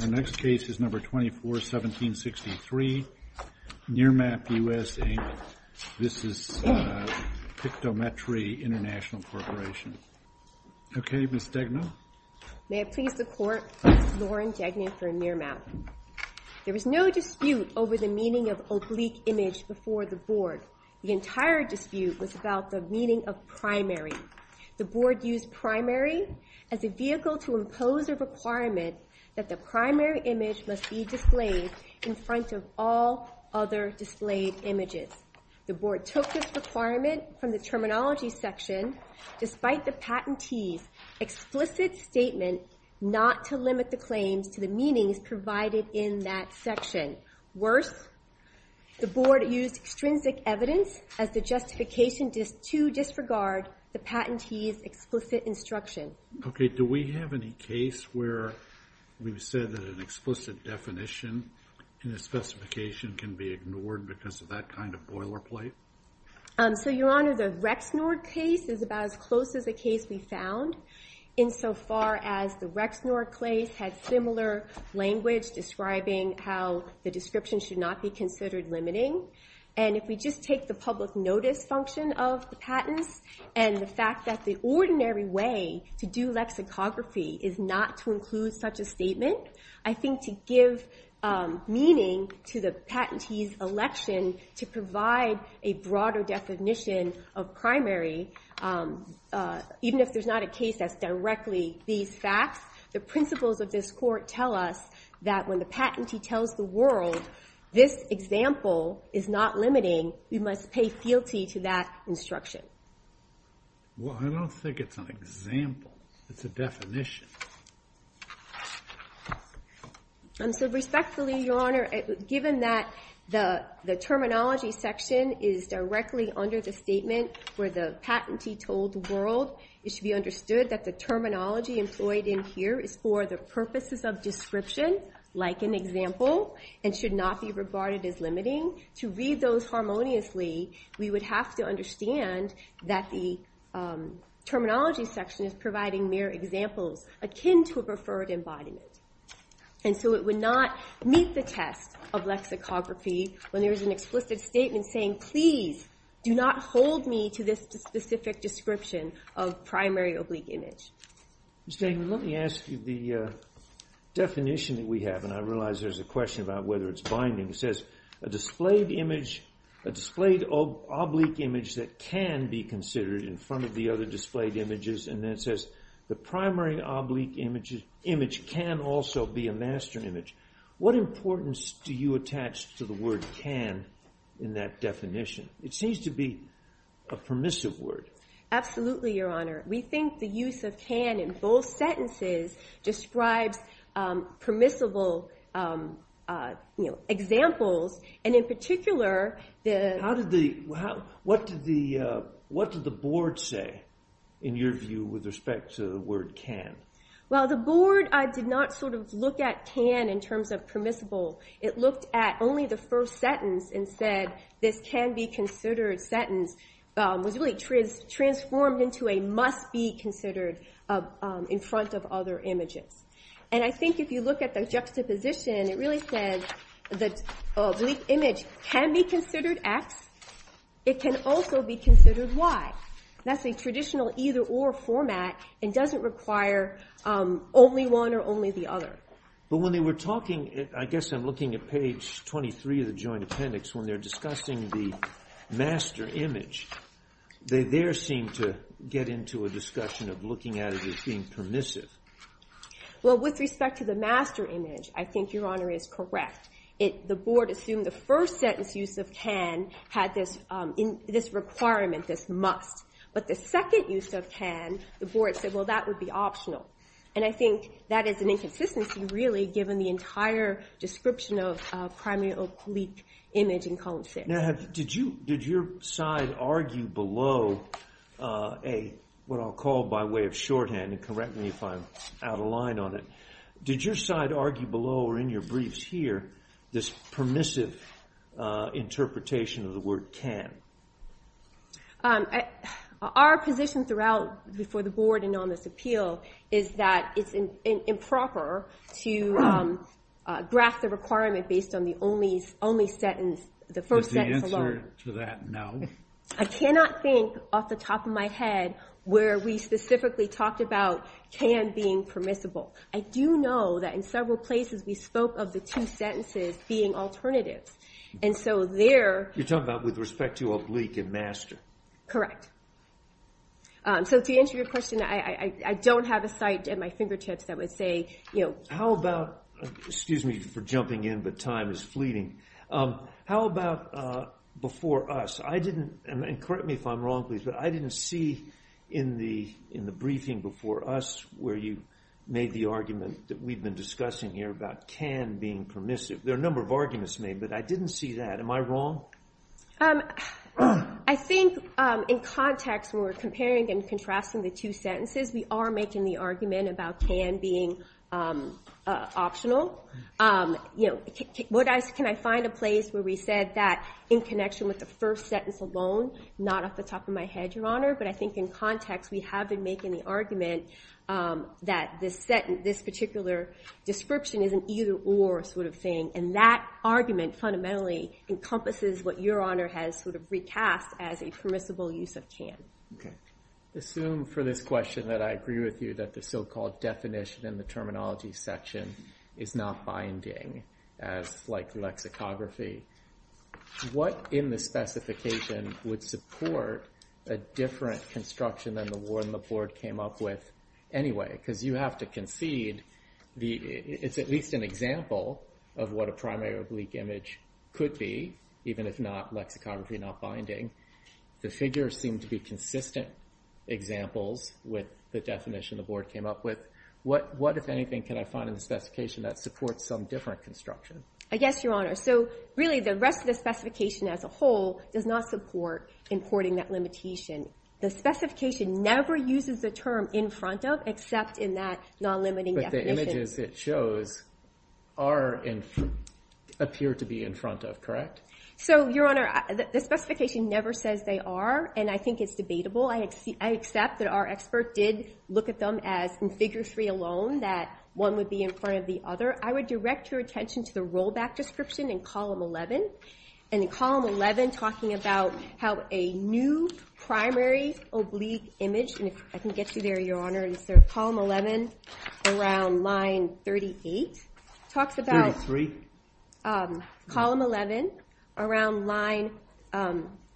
Our next case is number 24, 1763, Nearmap US, Inc. This is Pictometry International Corporation. OK, Ms. Degna. May it please the court, Lauren Degna for Nearmap. There was no dispute over the meaning of oblique image before the board. The entire dispute was about the meaning of primary. The board used primary as a vehicle to impose a requirement that the primary image must be displayed in front of all other displayed images. The board took this requirement from the terminology section despite the patentee's explicit statement not to limit the claims to the meanings provided in that section. Worse, the board used extrinsic evidence as the justification to disregard the patentee's explicit instruction. OK, do we have any case where we've said that an explicit definition in a specification can be ignored because of that kind of boilerplate? So, Your Honor, the Rexnord case is about as close as a case we found insofar as the Rexnord case had similar language describing how the description should not be considered limiting. And if we just take the public notice function of the patents and the fact that the ordinary way to do lexicography is not to include such a statement, I think to give meaning to the patentee's election to provide a broader definition of primary, even if there's not a case that's directly these facts, the principles of this court tell us that when the patentee tells the world this example is not limiting, we must pay fealty to that instruction. Well, I don't think it's an example. It's a definition. So respectfully, Your Honor, given that the terminology section is directly under the statement where the patentee told the world, it should be understood that the terminology employed in here is for the purposes of description, like an example, and should not be regarded as limiting. To read those harmoniously, we would have to understand that the terminology section is providing mere examples akin to a preferred embodiment. And so it would not meet the test of lexicography when there is an explicit statement saying, please do not hold me to this specific description of primary oblique image. Ms. Damon, let me ask you the definition that we have. And I realize there's a question about whether it's binding. It says, a displayed oblique image that can be considered in front of the other displayed images. And then it says, the primary oblique image can also be a master image. What importance do you attach to the word can in that definition? It seems to be a permissive word. Absolutely, Your Honor. We think the use of can in both sentences describes permissible examples. And in particular, the- What did the board say, in your view, with respect to the word can? Well, the board did not look at can in terms of permissible. It looked at only the first sentence and said, this can be considered sentence, was really transformed into a must be considered in front of other images. And I think if you look at the juxtaposition, it really says that oblique image can be considered X, it can also be considered Y. That's a traditional either or format and doesn't require only one or only the other. But when they were talking, I guess I'm looking at page 23 of the joint appendix, when they're discussing the master image, they there seem to get into a discussion of looking at it as being permissive. Well, with respect to the master image, I think Your Honor is correct. The board assumed the first sentence use of can had this requirement, this must. But the second use of can, the board said, well, that would be optional. And I think that is an inconsistency, really, given the entire description of primarily oblique image in column six. Did your side argue below a, what I'll call by way of shorthand and correct me if I'm out of line on it. Did your side argue below or in your briefs here, this permissive interpretation of the word can? Our position throughout before the board and on this appeal is that it's improper to graph the requirement based on the only sentence, the first sentence alone. Is the answer to that no? I cannot think off the top of my head where we specifically talked about can being permissible. I do know that in several places we spoke of the two sentences being alternatives. And so there. You're talking about with respect to oblique and master. Correct. So to answer your question, I don't have a site at my fingertips that would say, you know. How about, excuse me for jumping in, but time is fleeting. How about before us? And correct me if I'm wrong, please, but I didn't see in the briefing before us where you made the argument that we've been discussing here about can being permissive. There are a number of arguments made, but I didn't see that. Am I wrong? I think in context where we're comparing and contrasting the two sentences, we are making the argument about can being optional. Can I find a place where we said that in connection with the first sentence alone, not off the top of my head, your honor, but I think in context, we have been making the argument that this particular description is an either or sort of thing. And that argument fundamentally encompasses what your honor has sort of recast as a permissible use of can. Okay. Assume for this question that I agree with you that the so-called definition in the terminology section is not binding as like lexicography. What in the specification would support a different construction than the one the board came up with anyway? Because you have to concede it's at least an example of what a primary oblique image could be, even if not lexicography, not binding. The figures seem to be consistent examples with the definition the board came up with. What, if anything, can I find in the specification that supports some different construction? I guess, your honor. Really, the rest of the specification as a whole does not support importing that limitation. The specification never uses the term in front of, except in that non-limiting definition. But the images it shows appear to be in front of, correct? Your honor, the specification never says they are, and I think it's debatable. I accept that our expert did look at them as in figure three alone, that one would be in front of the other. I would direct your attention to the rollback description in column 11. And in column 11, talking about how a new primary oblique image, and if I can get you there, your honor, is there column 11 around line 38, talks about column 11 around line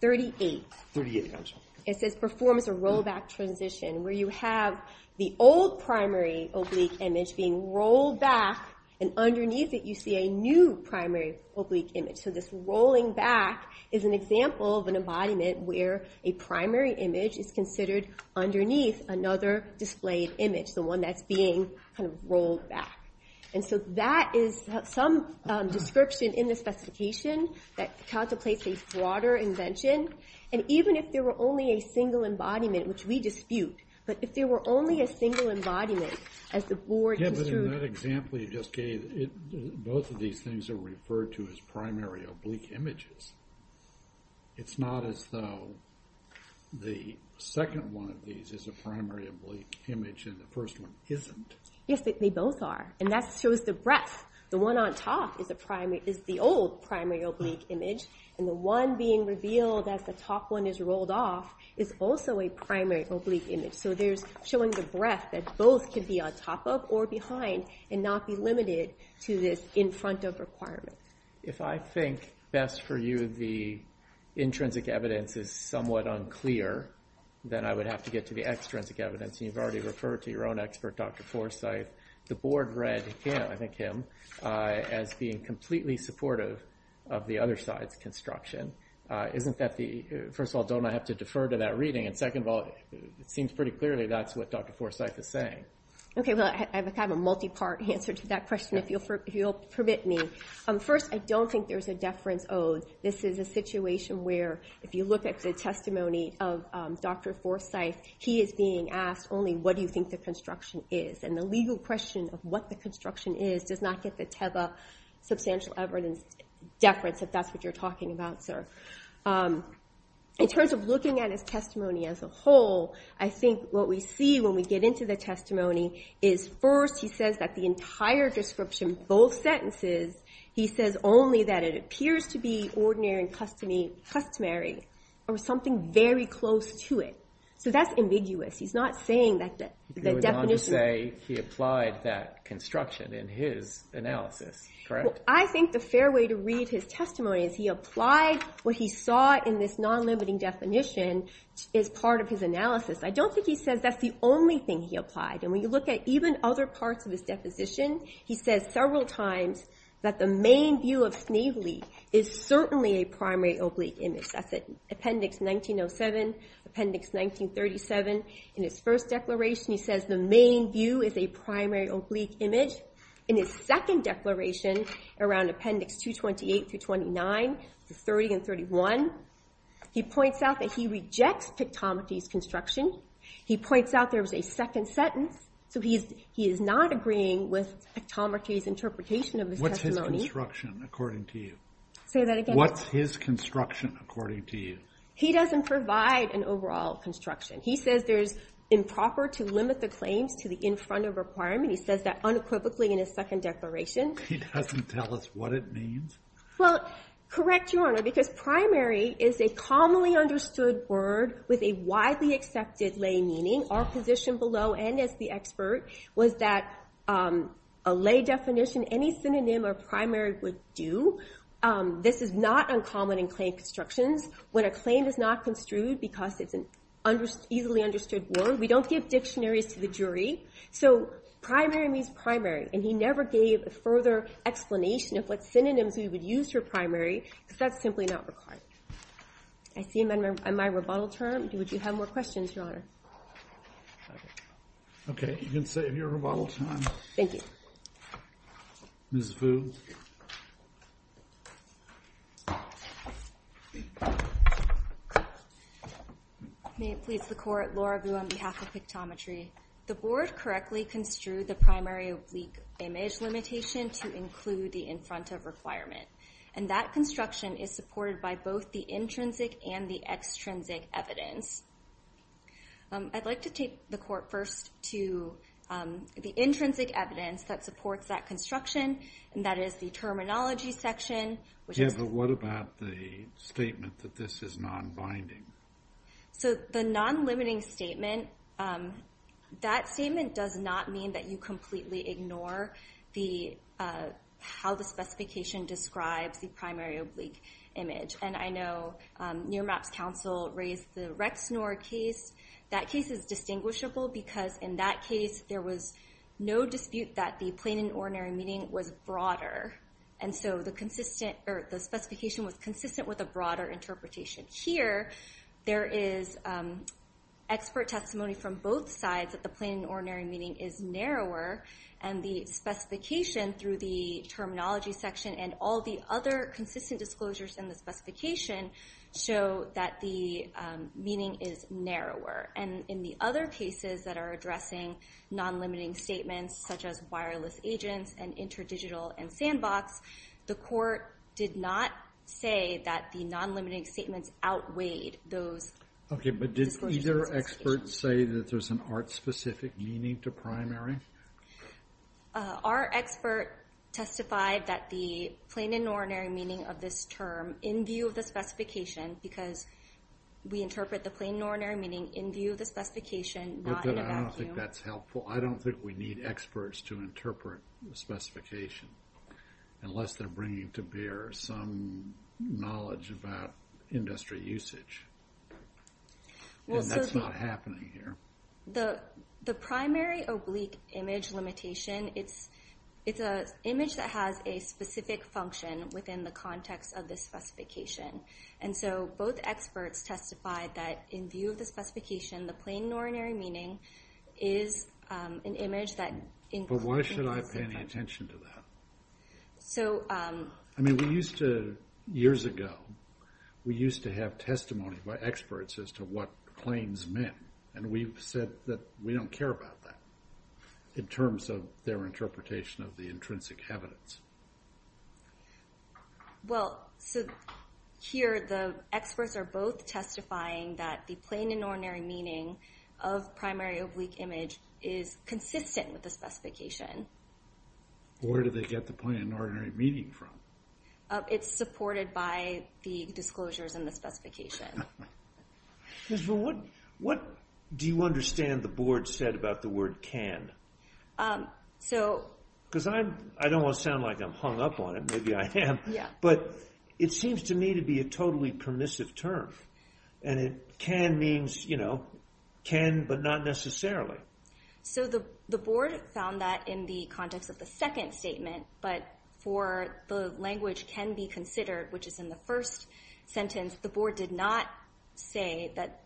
38. 38, I'm sorry. It says performs a rollback transition where you have the old primary oblique image being rolled back, and underneath it, you see a new primary oblique image. So this rolling back is an example of an embodiment where a primary image is considered underneath another displayed image, the one that's being rolled back. And so that is some description in the specification that contemplates a broader invention. And even if there were only a single embodiment, which we dispute, but if there were only a single embodiment, as the board construed. Yeah, but in that example you just gave, both of these things are referred to as primary oblique images. It's not as though the second one of these is a primary oblique image and the first one isn't. Yes, they both are, and that shows the breadth. The one on top is the old primary oblique image, and the one being revealed as the top one is rolled off is also a primary oblique image. So there's showing the breadth that both can be on top of or behind and not be limited to this in front of requirement. If I think, best for you, the intrinsic evidence is somewhat unclear, then I would have to get to the extrinsic evidence, and you've already referred to your own expert, Dr. Forsythe. The board read him, I think him, as being completely supportive of the other side's construction. Isn't that the, first of all, don't I have to defer to that reading? And second of all, it seems pretty clearly that's what Dr. Forsythe is saying. Okay, well, I have a kind of a multi-part answer to that question, if you'll permit me. First, I don't think there's a deference owed. This is a situation where, if you look at the testimony of Dr. Forsythe, he is being asked only, what do you think the construction is? And the legal question of what the construction is does not get the TEBA substantial evidence deference, if that's what you're talking about, sir. In terms of looking at his testimony as a whole, I think what we see when we get into the testimony is first, he says that the entire description, both sentences, he says only that it appears to be ordinary and customary, or something very close to it. So that's ambiguous. He's not saying that the definition- You would want to say he applied that construction in his analysis, correct? Well, I think the fair way to read his testimony is he applied what he saw in this non-limiting definition as part of his analysis. I don't think he says that's the only thing he applied. And when you look at even other parts of his deposition, he says several times that the main view of Snavely is certainly a primary oblique image. That's at Appendix 1907, Appendix 1937. In his first declaration, he says the main view is a primary oblique image. In his second declaration, around Appendix 228 through 29, 30 and 31, he points out that he rejects Pictomachy's construction. He points out there was a second sentence. So he is not agreeing with Pictomachy's interpretation of his testimony. What's his construction, according to you? Say that again? What's his construction, according to you? He doesn't provide an overall construction. He says there's improper to limit the claims to the in front of requirement. He says that unequivocally in his second declaration. He doesn't tell us what it means? Well, correct, Your Honor, because primary is a commonly understood word with a widely accepted lay meaning. Our position below, and as the expert, was that a lay definition, any synonym or primary would do. This is not uncommon in claim constructions. When a claim is not construed because it's an easily understood word, we don't give dictionaries to the jury. So primary means primary. And he never gave a further explanation of what synonyms we would use for primary, because that's simply not required. I see him on my rebuttal term. Would you have more questions, Your Honor? OK, you can save your rebuttal time. Thank you. Ms. Vu. May it please the Court, Laura Vu on behalf of Pictometry. The board correctly construed the primary oblique image limitation to include the in front of requirement. And that construction is supported by both the intrinsic and the extrinsic evidence. I'd like to take the Court first to the intrinsic evidence that supports that construction, and that is the terminology section, which is the- Yeah, but what about the statement that this is non-binding? So the non-limiting statement, that statement does not mean that you completely ignore how the specification describes the primary oblique image. And I know near maps counsel raised the Rexnor case. That case is distinguishable, because in that case, there was no dispute that the plain and ordinary meaning was broader. And so the specification was consistent with a broader interpretation. Here, there is expert testimony from both sides that the plain and ordinary meaning is narrower. And the specification through the terminology section and all the other consistent disclosures in the specification show that the meaning is narrower. And in the other cases that are addressing non-limiting statements, such as wireless agents and interdigital and sandbox, the Court did not say that the non-limiting statements outweighed those. OK, but did either expert say that there's an art-specific meaning to primary? Our expert testified that the plain and ordinary meaning of this term, in view of the specification, because we interpret the plain and ordinary meaning in view of the specification, not in a vacuum. But I don't think that's helpful. I don't think we need experts to interpret the specification, unless they're bringing to bear some knowledge about industry usage. And that's not happening here. The primary oblique image limitation, it's an image that has a specific function within the context of the specification. And so both experts testified that in view of the specification, the plain and ordinary meaning is an image that includes a specific function. But why should I pay any attention to that? So I mean, we used to, years ago, we used to have testimony by experts as to what claims meant. And we've said that we don't care about that, in terms of their interpretation of the intrinsic evidence. Well, so here, the experts are both testifying that the plain and ordinary meaning of primary oblique image is consistent with the specification. Where do they get the plain and ordinary meaning from? It's supported by the disclosures in the specification. What do you understand the board said about the word can? Because I don't want to sound like I'm hung up on it. Maybe I am. But it seems to me to be a totally permissive term. And can means can, but not necessarily. So the board found that in the context of the second statement. But for the language can be considered, which is in the first sentence, the board did not say that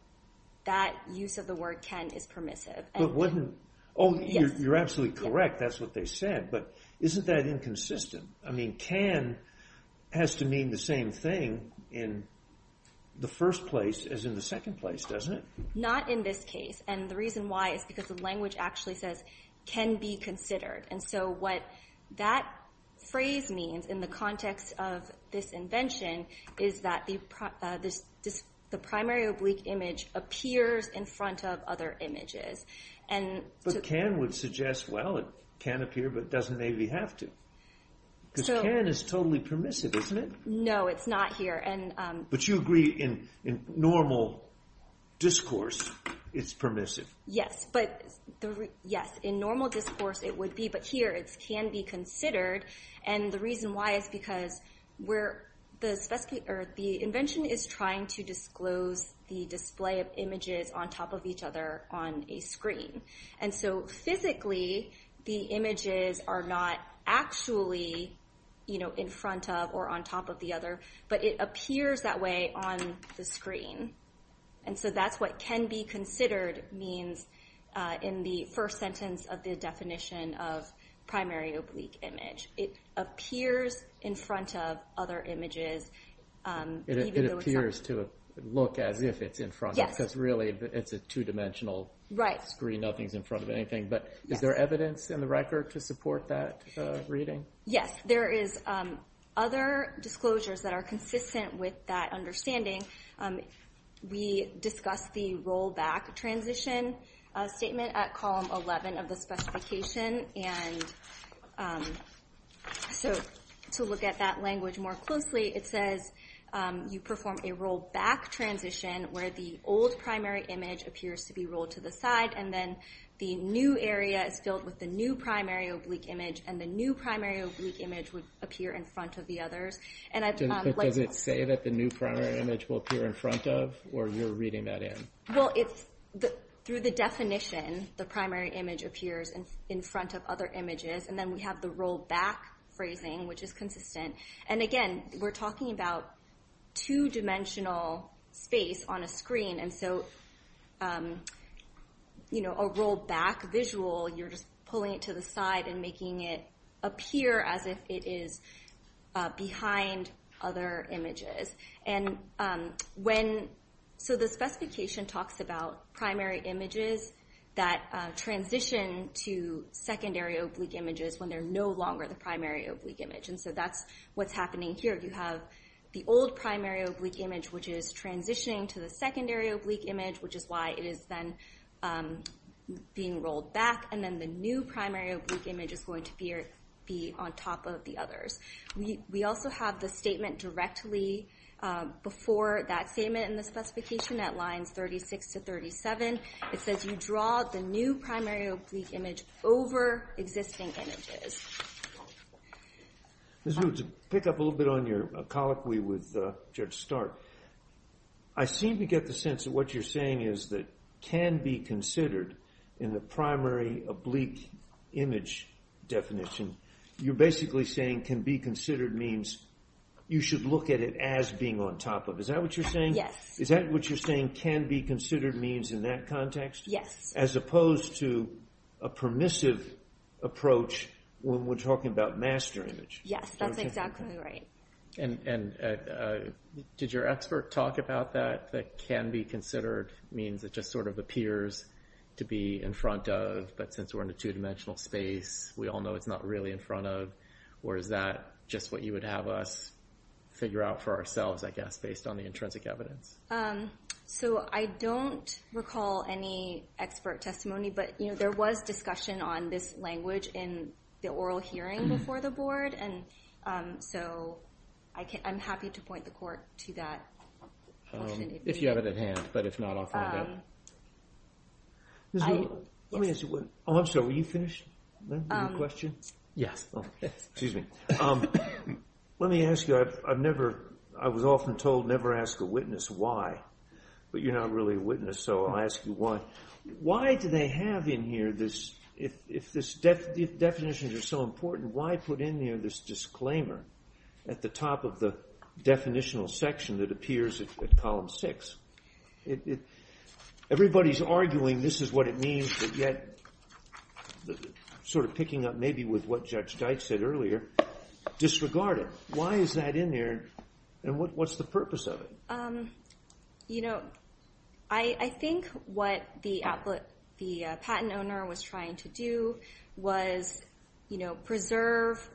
that use of the word can is permissive. But wouldn't, oh, you're absolutely correct. That's what they said. But isn't that inconsistent? I mean, can has to mean the same thing in the first place as in the second place, doesn't it? Not in this case. And the reason why is because the language actually says can be considered. And so what that phrase means in the context of this invention is that the primary oblique image appears in front of other images. But can would suggest, well, it can appear, but doesn't maybe have to. Because can is totally permissive, isn't it? No, it's not here. But you agree in normal discourse, it's permissive. Yes, in normal discourse, it would be. But here, it can be considered. And the reason why is because the invention is trying to disclose the display of images on top of each other on a screen. And so physically, the images are not actually in front of or on top of the other, but it appears that way on the screen. And so that's what can be considered means in the first sentence of the definition of primary oblique image. It appears in front of other images. It appears to look as if it's in front of, because really, it's a two-dimensional screen. Nothing's in front of anything. But is there evidence in the record to support that reading? Yes, there is other disclosures that are consistent with that understanding. We discussed the rollback transition statement at column 11 of the specification. And so to look at that language more closely, it says you perform a rollback transition where the old primary image appears to be rolled to the side, and then the new area is filled with the new primary oblique image, and the new primary oblique image would appear in front of the others. And I've- Does it say that the new primary image will appear in front of, or you're reading that in? Well, through the definition, the primary image appears in front of other images. And then we have the rollback phrasing, which is consistent. And again, we're talking about two-dimensional space on a screen. And so a rollback visual, you're just pulling it to the side and making it appear as if it is behind other images. And when, so the specification talks about primary images that transition to secondary oblique images when they're no longer the primary oblique image. And so that's what's happening here. You have the old primary oblique image, which is transitioning to the secondary oblique image, which is why it is then being rolled back. And then the new primary oblique image is going to be on top of the others. We also have the statement directly before that statement in the specification at lines 36 to 37. It says you draw the new primary oblique image over existing images. Ms. Wu, to pick up a little bit on your colloquy with Judge Stark, I seem to get the sense that what you're saying is that can be considered in the primary oblique image definition, you're basically saying can be considered means you should look at it as being on top of. Is that what you're saying? Yes. Is that what you're saying can be considered means in that context? Yes. As opposed to a permissive approach when we're talking about master image. Yes, that's exactly right. And did your expert talk about that, that can be considered means it just sort of appears to be in front of, but since we're in a two dimensional space, we all know it's not really in front of, or is that just what you would have us figure out for ourselves, I guess, based on the intrinsic evidence? So I don't recall any expert testimony, but there was discussion on this language in the oral hearing before the board. And so I'm happy to point the court to that. If you have it at hand, but if not, I'll find it out. Let me ask you, oh, I'm sorry, were you finished? Your question? Yes. Excuse me. Let me ask you, I've never, I was often told never ask a witness why, but you're not really a witness, so I'll ask you why. Why do they have in here this, if definitions are so important, why put in there this disclaimer at the top of the definitional section that appears at column six? Everybody's arguing this is what it means, but yet, sort of picking up maybe with what Judge Deitch said earlier, disregard it. Why is that in there, and what's the purpose of it? I think what the patent owner was trying to do was preserve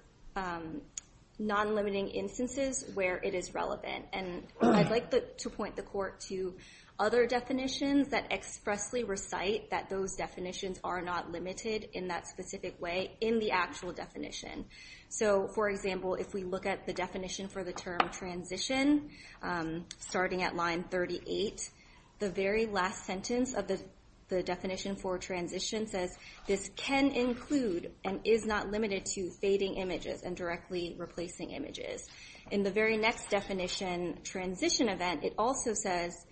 non-limiting instances where it is relevant. And I'd like to point the court to other definitions that expressly recite that those definitions are not limited in that specific way in the actual definition. So for example, if we look at the definition for the term transition, starting at line 38, the very last sentence of the definition for transition says this can include and is not limited to fading images and directly replacing images. In the very next definition, transition event, it also says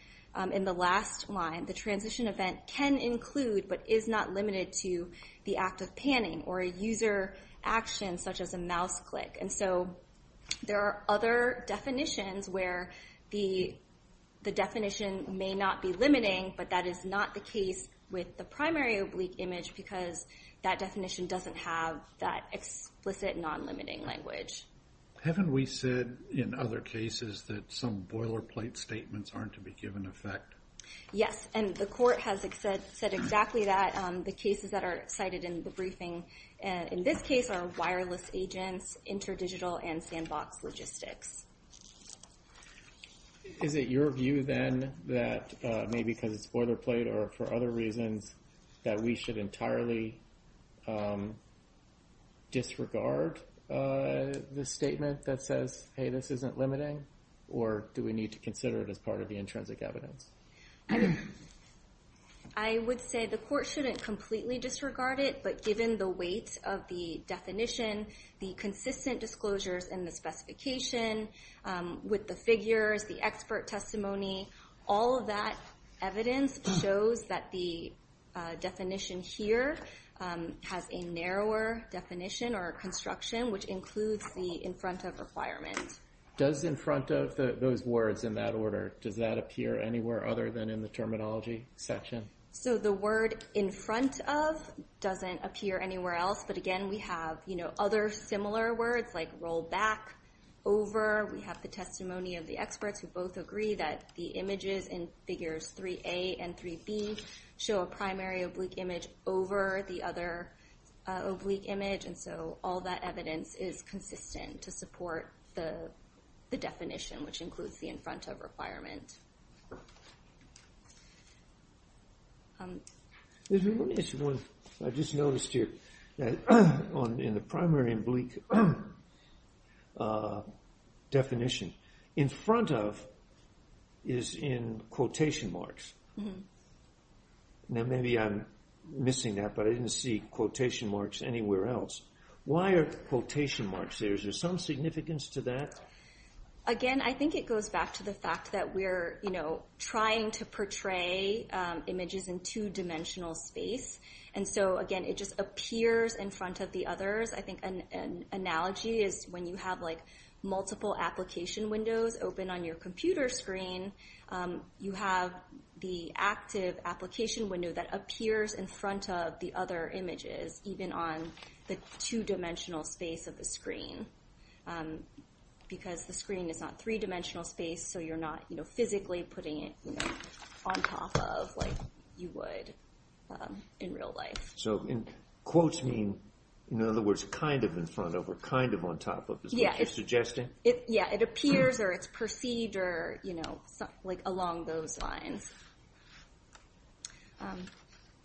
in the last line, the transition event can include, but is not limited to the act of panning or a user action such as a mouse click. And so there are other definitions where the definition may not be limiting, but that is not the case with the primary oblique image because that definition doesn't have that explicit non-limiting language. Haven't we said in other cases that some boilerplate statements aren't to be given effect? Yes, and the court has said exactly that. The cases that are cited in the briefing in this case are wireless agents, interdigital and sandbox logistics. Is it your view then that maybe because it's boilerplate or for other reasons that we should entirely disregard the statement that says, hey, this isn't limiting or do we need to consider it as part of the intrinsic evidence? I would say the court shouldn't completely disregard it, but given the weight of the definition, the consistent disclosures and the specification with the figures, the expert testimony, all of that evidence shows that the definition here has a narrower definition or construction, which includes the in front of requirement. Does in front of those words in that order, does that appear anywhere other than in the terminology section? So the word in front of doesn't appear anywhere else, but again, we have other similar words like roll back, over, we have the testimony of the experts who both agree that the images in figures 3A and 3B show a primary oblique image over the other oblique image. And so all that evidence is consistent to support the definition, which includes the in front of requirement. I just noticed here that in the primary oblique definition, in front of is in quotation marks. Now, maybe I'm missing that, but I didn't see quotation marks anywhere else. Why are quotation marks there? Is there some significance to that? Again, I think it goes back to the fact that we're trying to portray images in two dimensional space. And so again, it just appears in front of the others. I think an analogy is when you have like multiple application windows open on your computer screen, you have the active application window that appears in front of the other images, even on the two dimensional space of the screen. Because the screen is not three dimensional space, so you're not physically putting it on top of like you would in real life. So in quotes mean, in other words, kind of in front of or kind of on top of, is what you're suggesting? Yeah, it appears or it's perceived or like along those lines.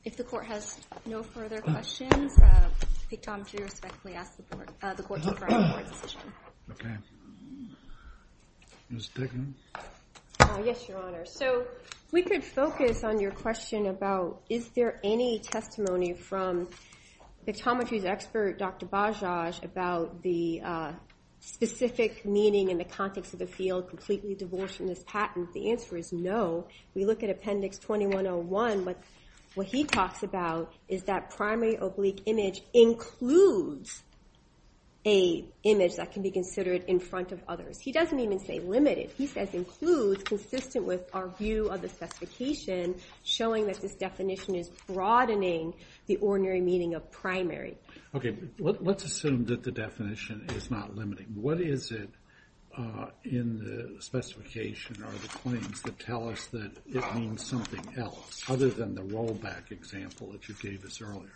If the court has no further questions, Victometry respectfully asks the court to confirm the court's decision. Ms. Dickens. Yes, Your Honor. So if we could focus on your question about is there any testimony from Victometry's expert, Dr. Bajaj, about the specific meaning in the context of the field completely devolves from this patent? The answer is no. We look at Appendix 2101, what he talks about is that primary oblique image includes a image that can be considered in front of others. He doesn't even say limited. He says includes consistent with our view of the specification, showing that this definition is broadening the ordinary meaning of primary. Okay, let's assume that the definition is not limiting. What is it in the specification or the claims that tell us that it means something else other than the rollback example that you gave us earlier?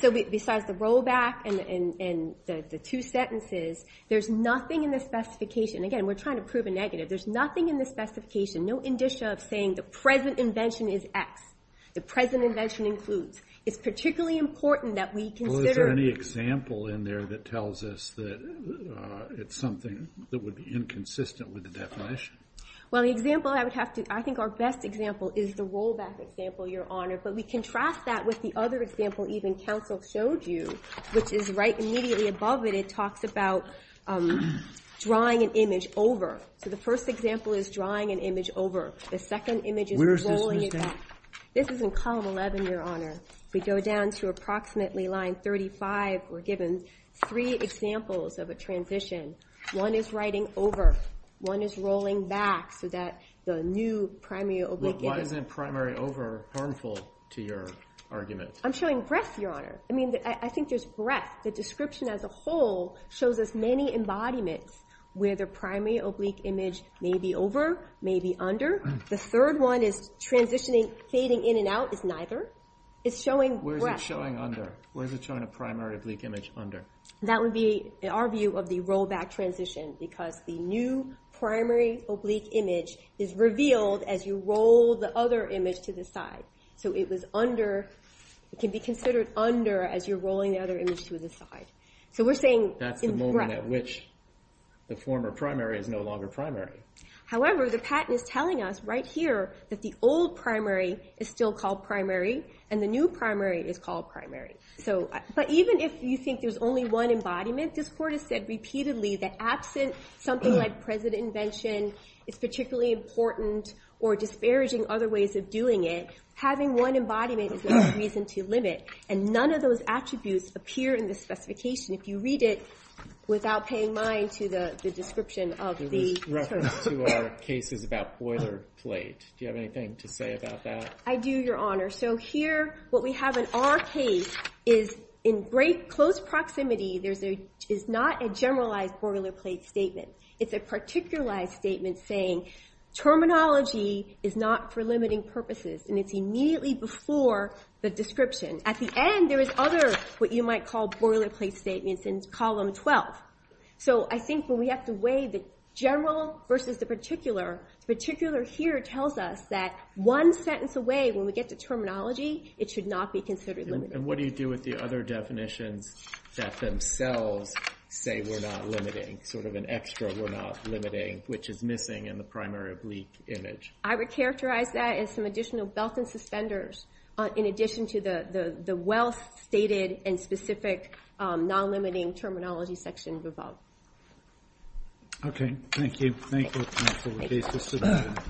So besides the rollback and the two sentences, there's nothing in the specification. Again, we're trying to prove a negative. There's nothing in the specification, no indicia of saying the present invention is X. The present invention includes. It's particularly important that we consider. Well, is there any example in there that tells us that it's something that would be inconsistent with the definition? Well, the example I would have to, I think our best example is the rollback example, Your Honor, but we contrast that with the other example even counsel showed you, which is right immediately above it. It talks about drawing an image over. So the first example is drawing an image over. The second image is rolling it back. This is in column 11, Your Honor. We go down to approximately line 35. We're given three examples of a transition. One is writing over, one is rolling back so that the new primary oblique image. Why isn't primary over harmful to your argument? I'm showing breadth, Your Honor. I mean, I think there's breadth. The description as a whole shows us many embodiments where the primary oblique image may be over, may be under. The third one is transitioning, fading in and out is neither. It's showing breadth. Where is it showing under? Where is it showing a primary oblique image under? That would be our view of the rollback transition because the new primary oblique image is revealed as you roll the other image to the side. So it was under, it can be considered under as you're rolling the other image to the side. So we're saying- That's the moment at which the former primary is no longer primary. However, the patent is telling us right here that the old primary is still called primary and the new primary is called primary. But even if you think there's only one embodiment, I think this court has said repeatedly that absent something like president invention is particularly important or disparaging other ways of doing it, having one embodiment is not a reason to limit. And none of those attributes appear in the specification if you read it without paying mind to the description of the- There was reference to our cases about boilerplate. Do you have anything to say about that? I do, Your Honor. So here, what we have in our case is in great close proximity, is not a generalized boilerplate statement. It's a particularized statement saying terminology is not for limiting purposes and it's immediately before the description. At the end, there is other, what you might call boilerplate statements in column 12. So I think when we have to weigh the general versus the particular, particular here tells us that one sentence away when we get to terminology, it should not be considered limiting. And what do you do with the other definitions that themselves say we're not limiting, sort of an extra we're not limiting, which is missing in the primary oblique image? I would characterize that as some additional belt and suspenders in addition to the well-stated and specific non-limiting terminology section above. Okay, thank you. Thank you, counsel. The case is submitted.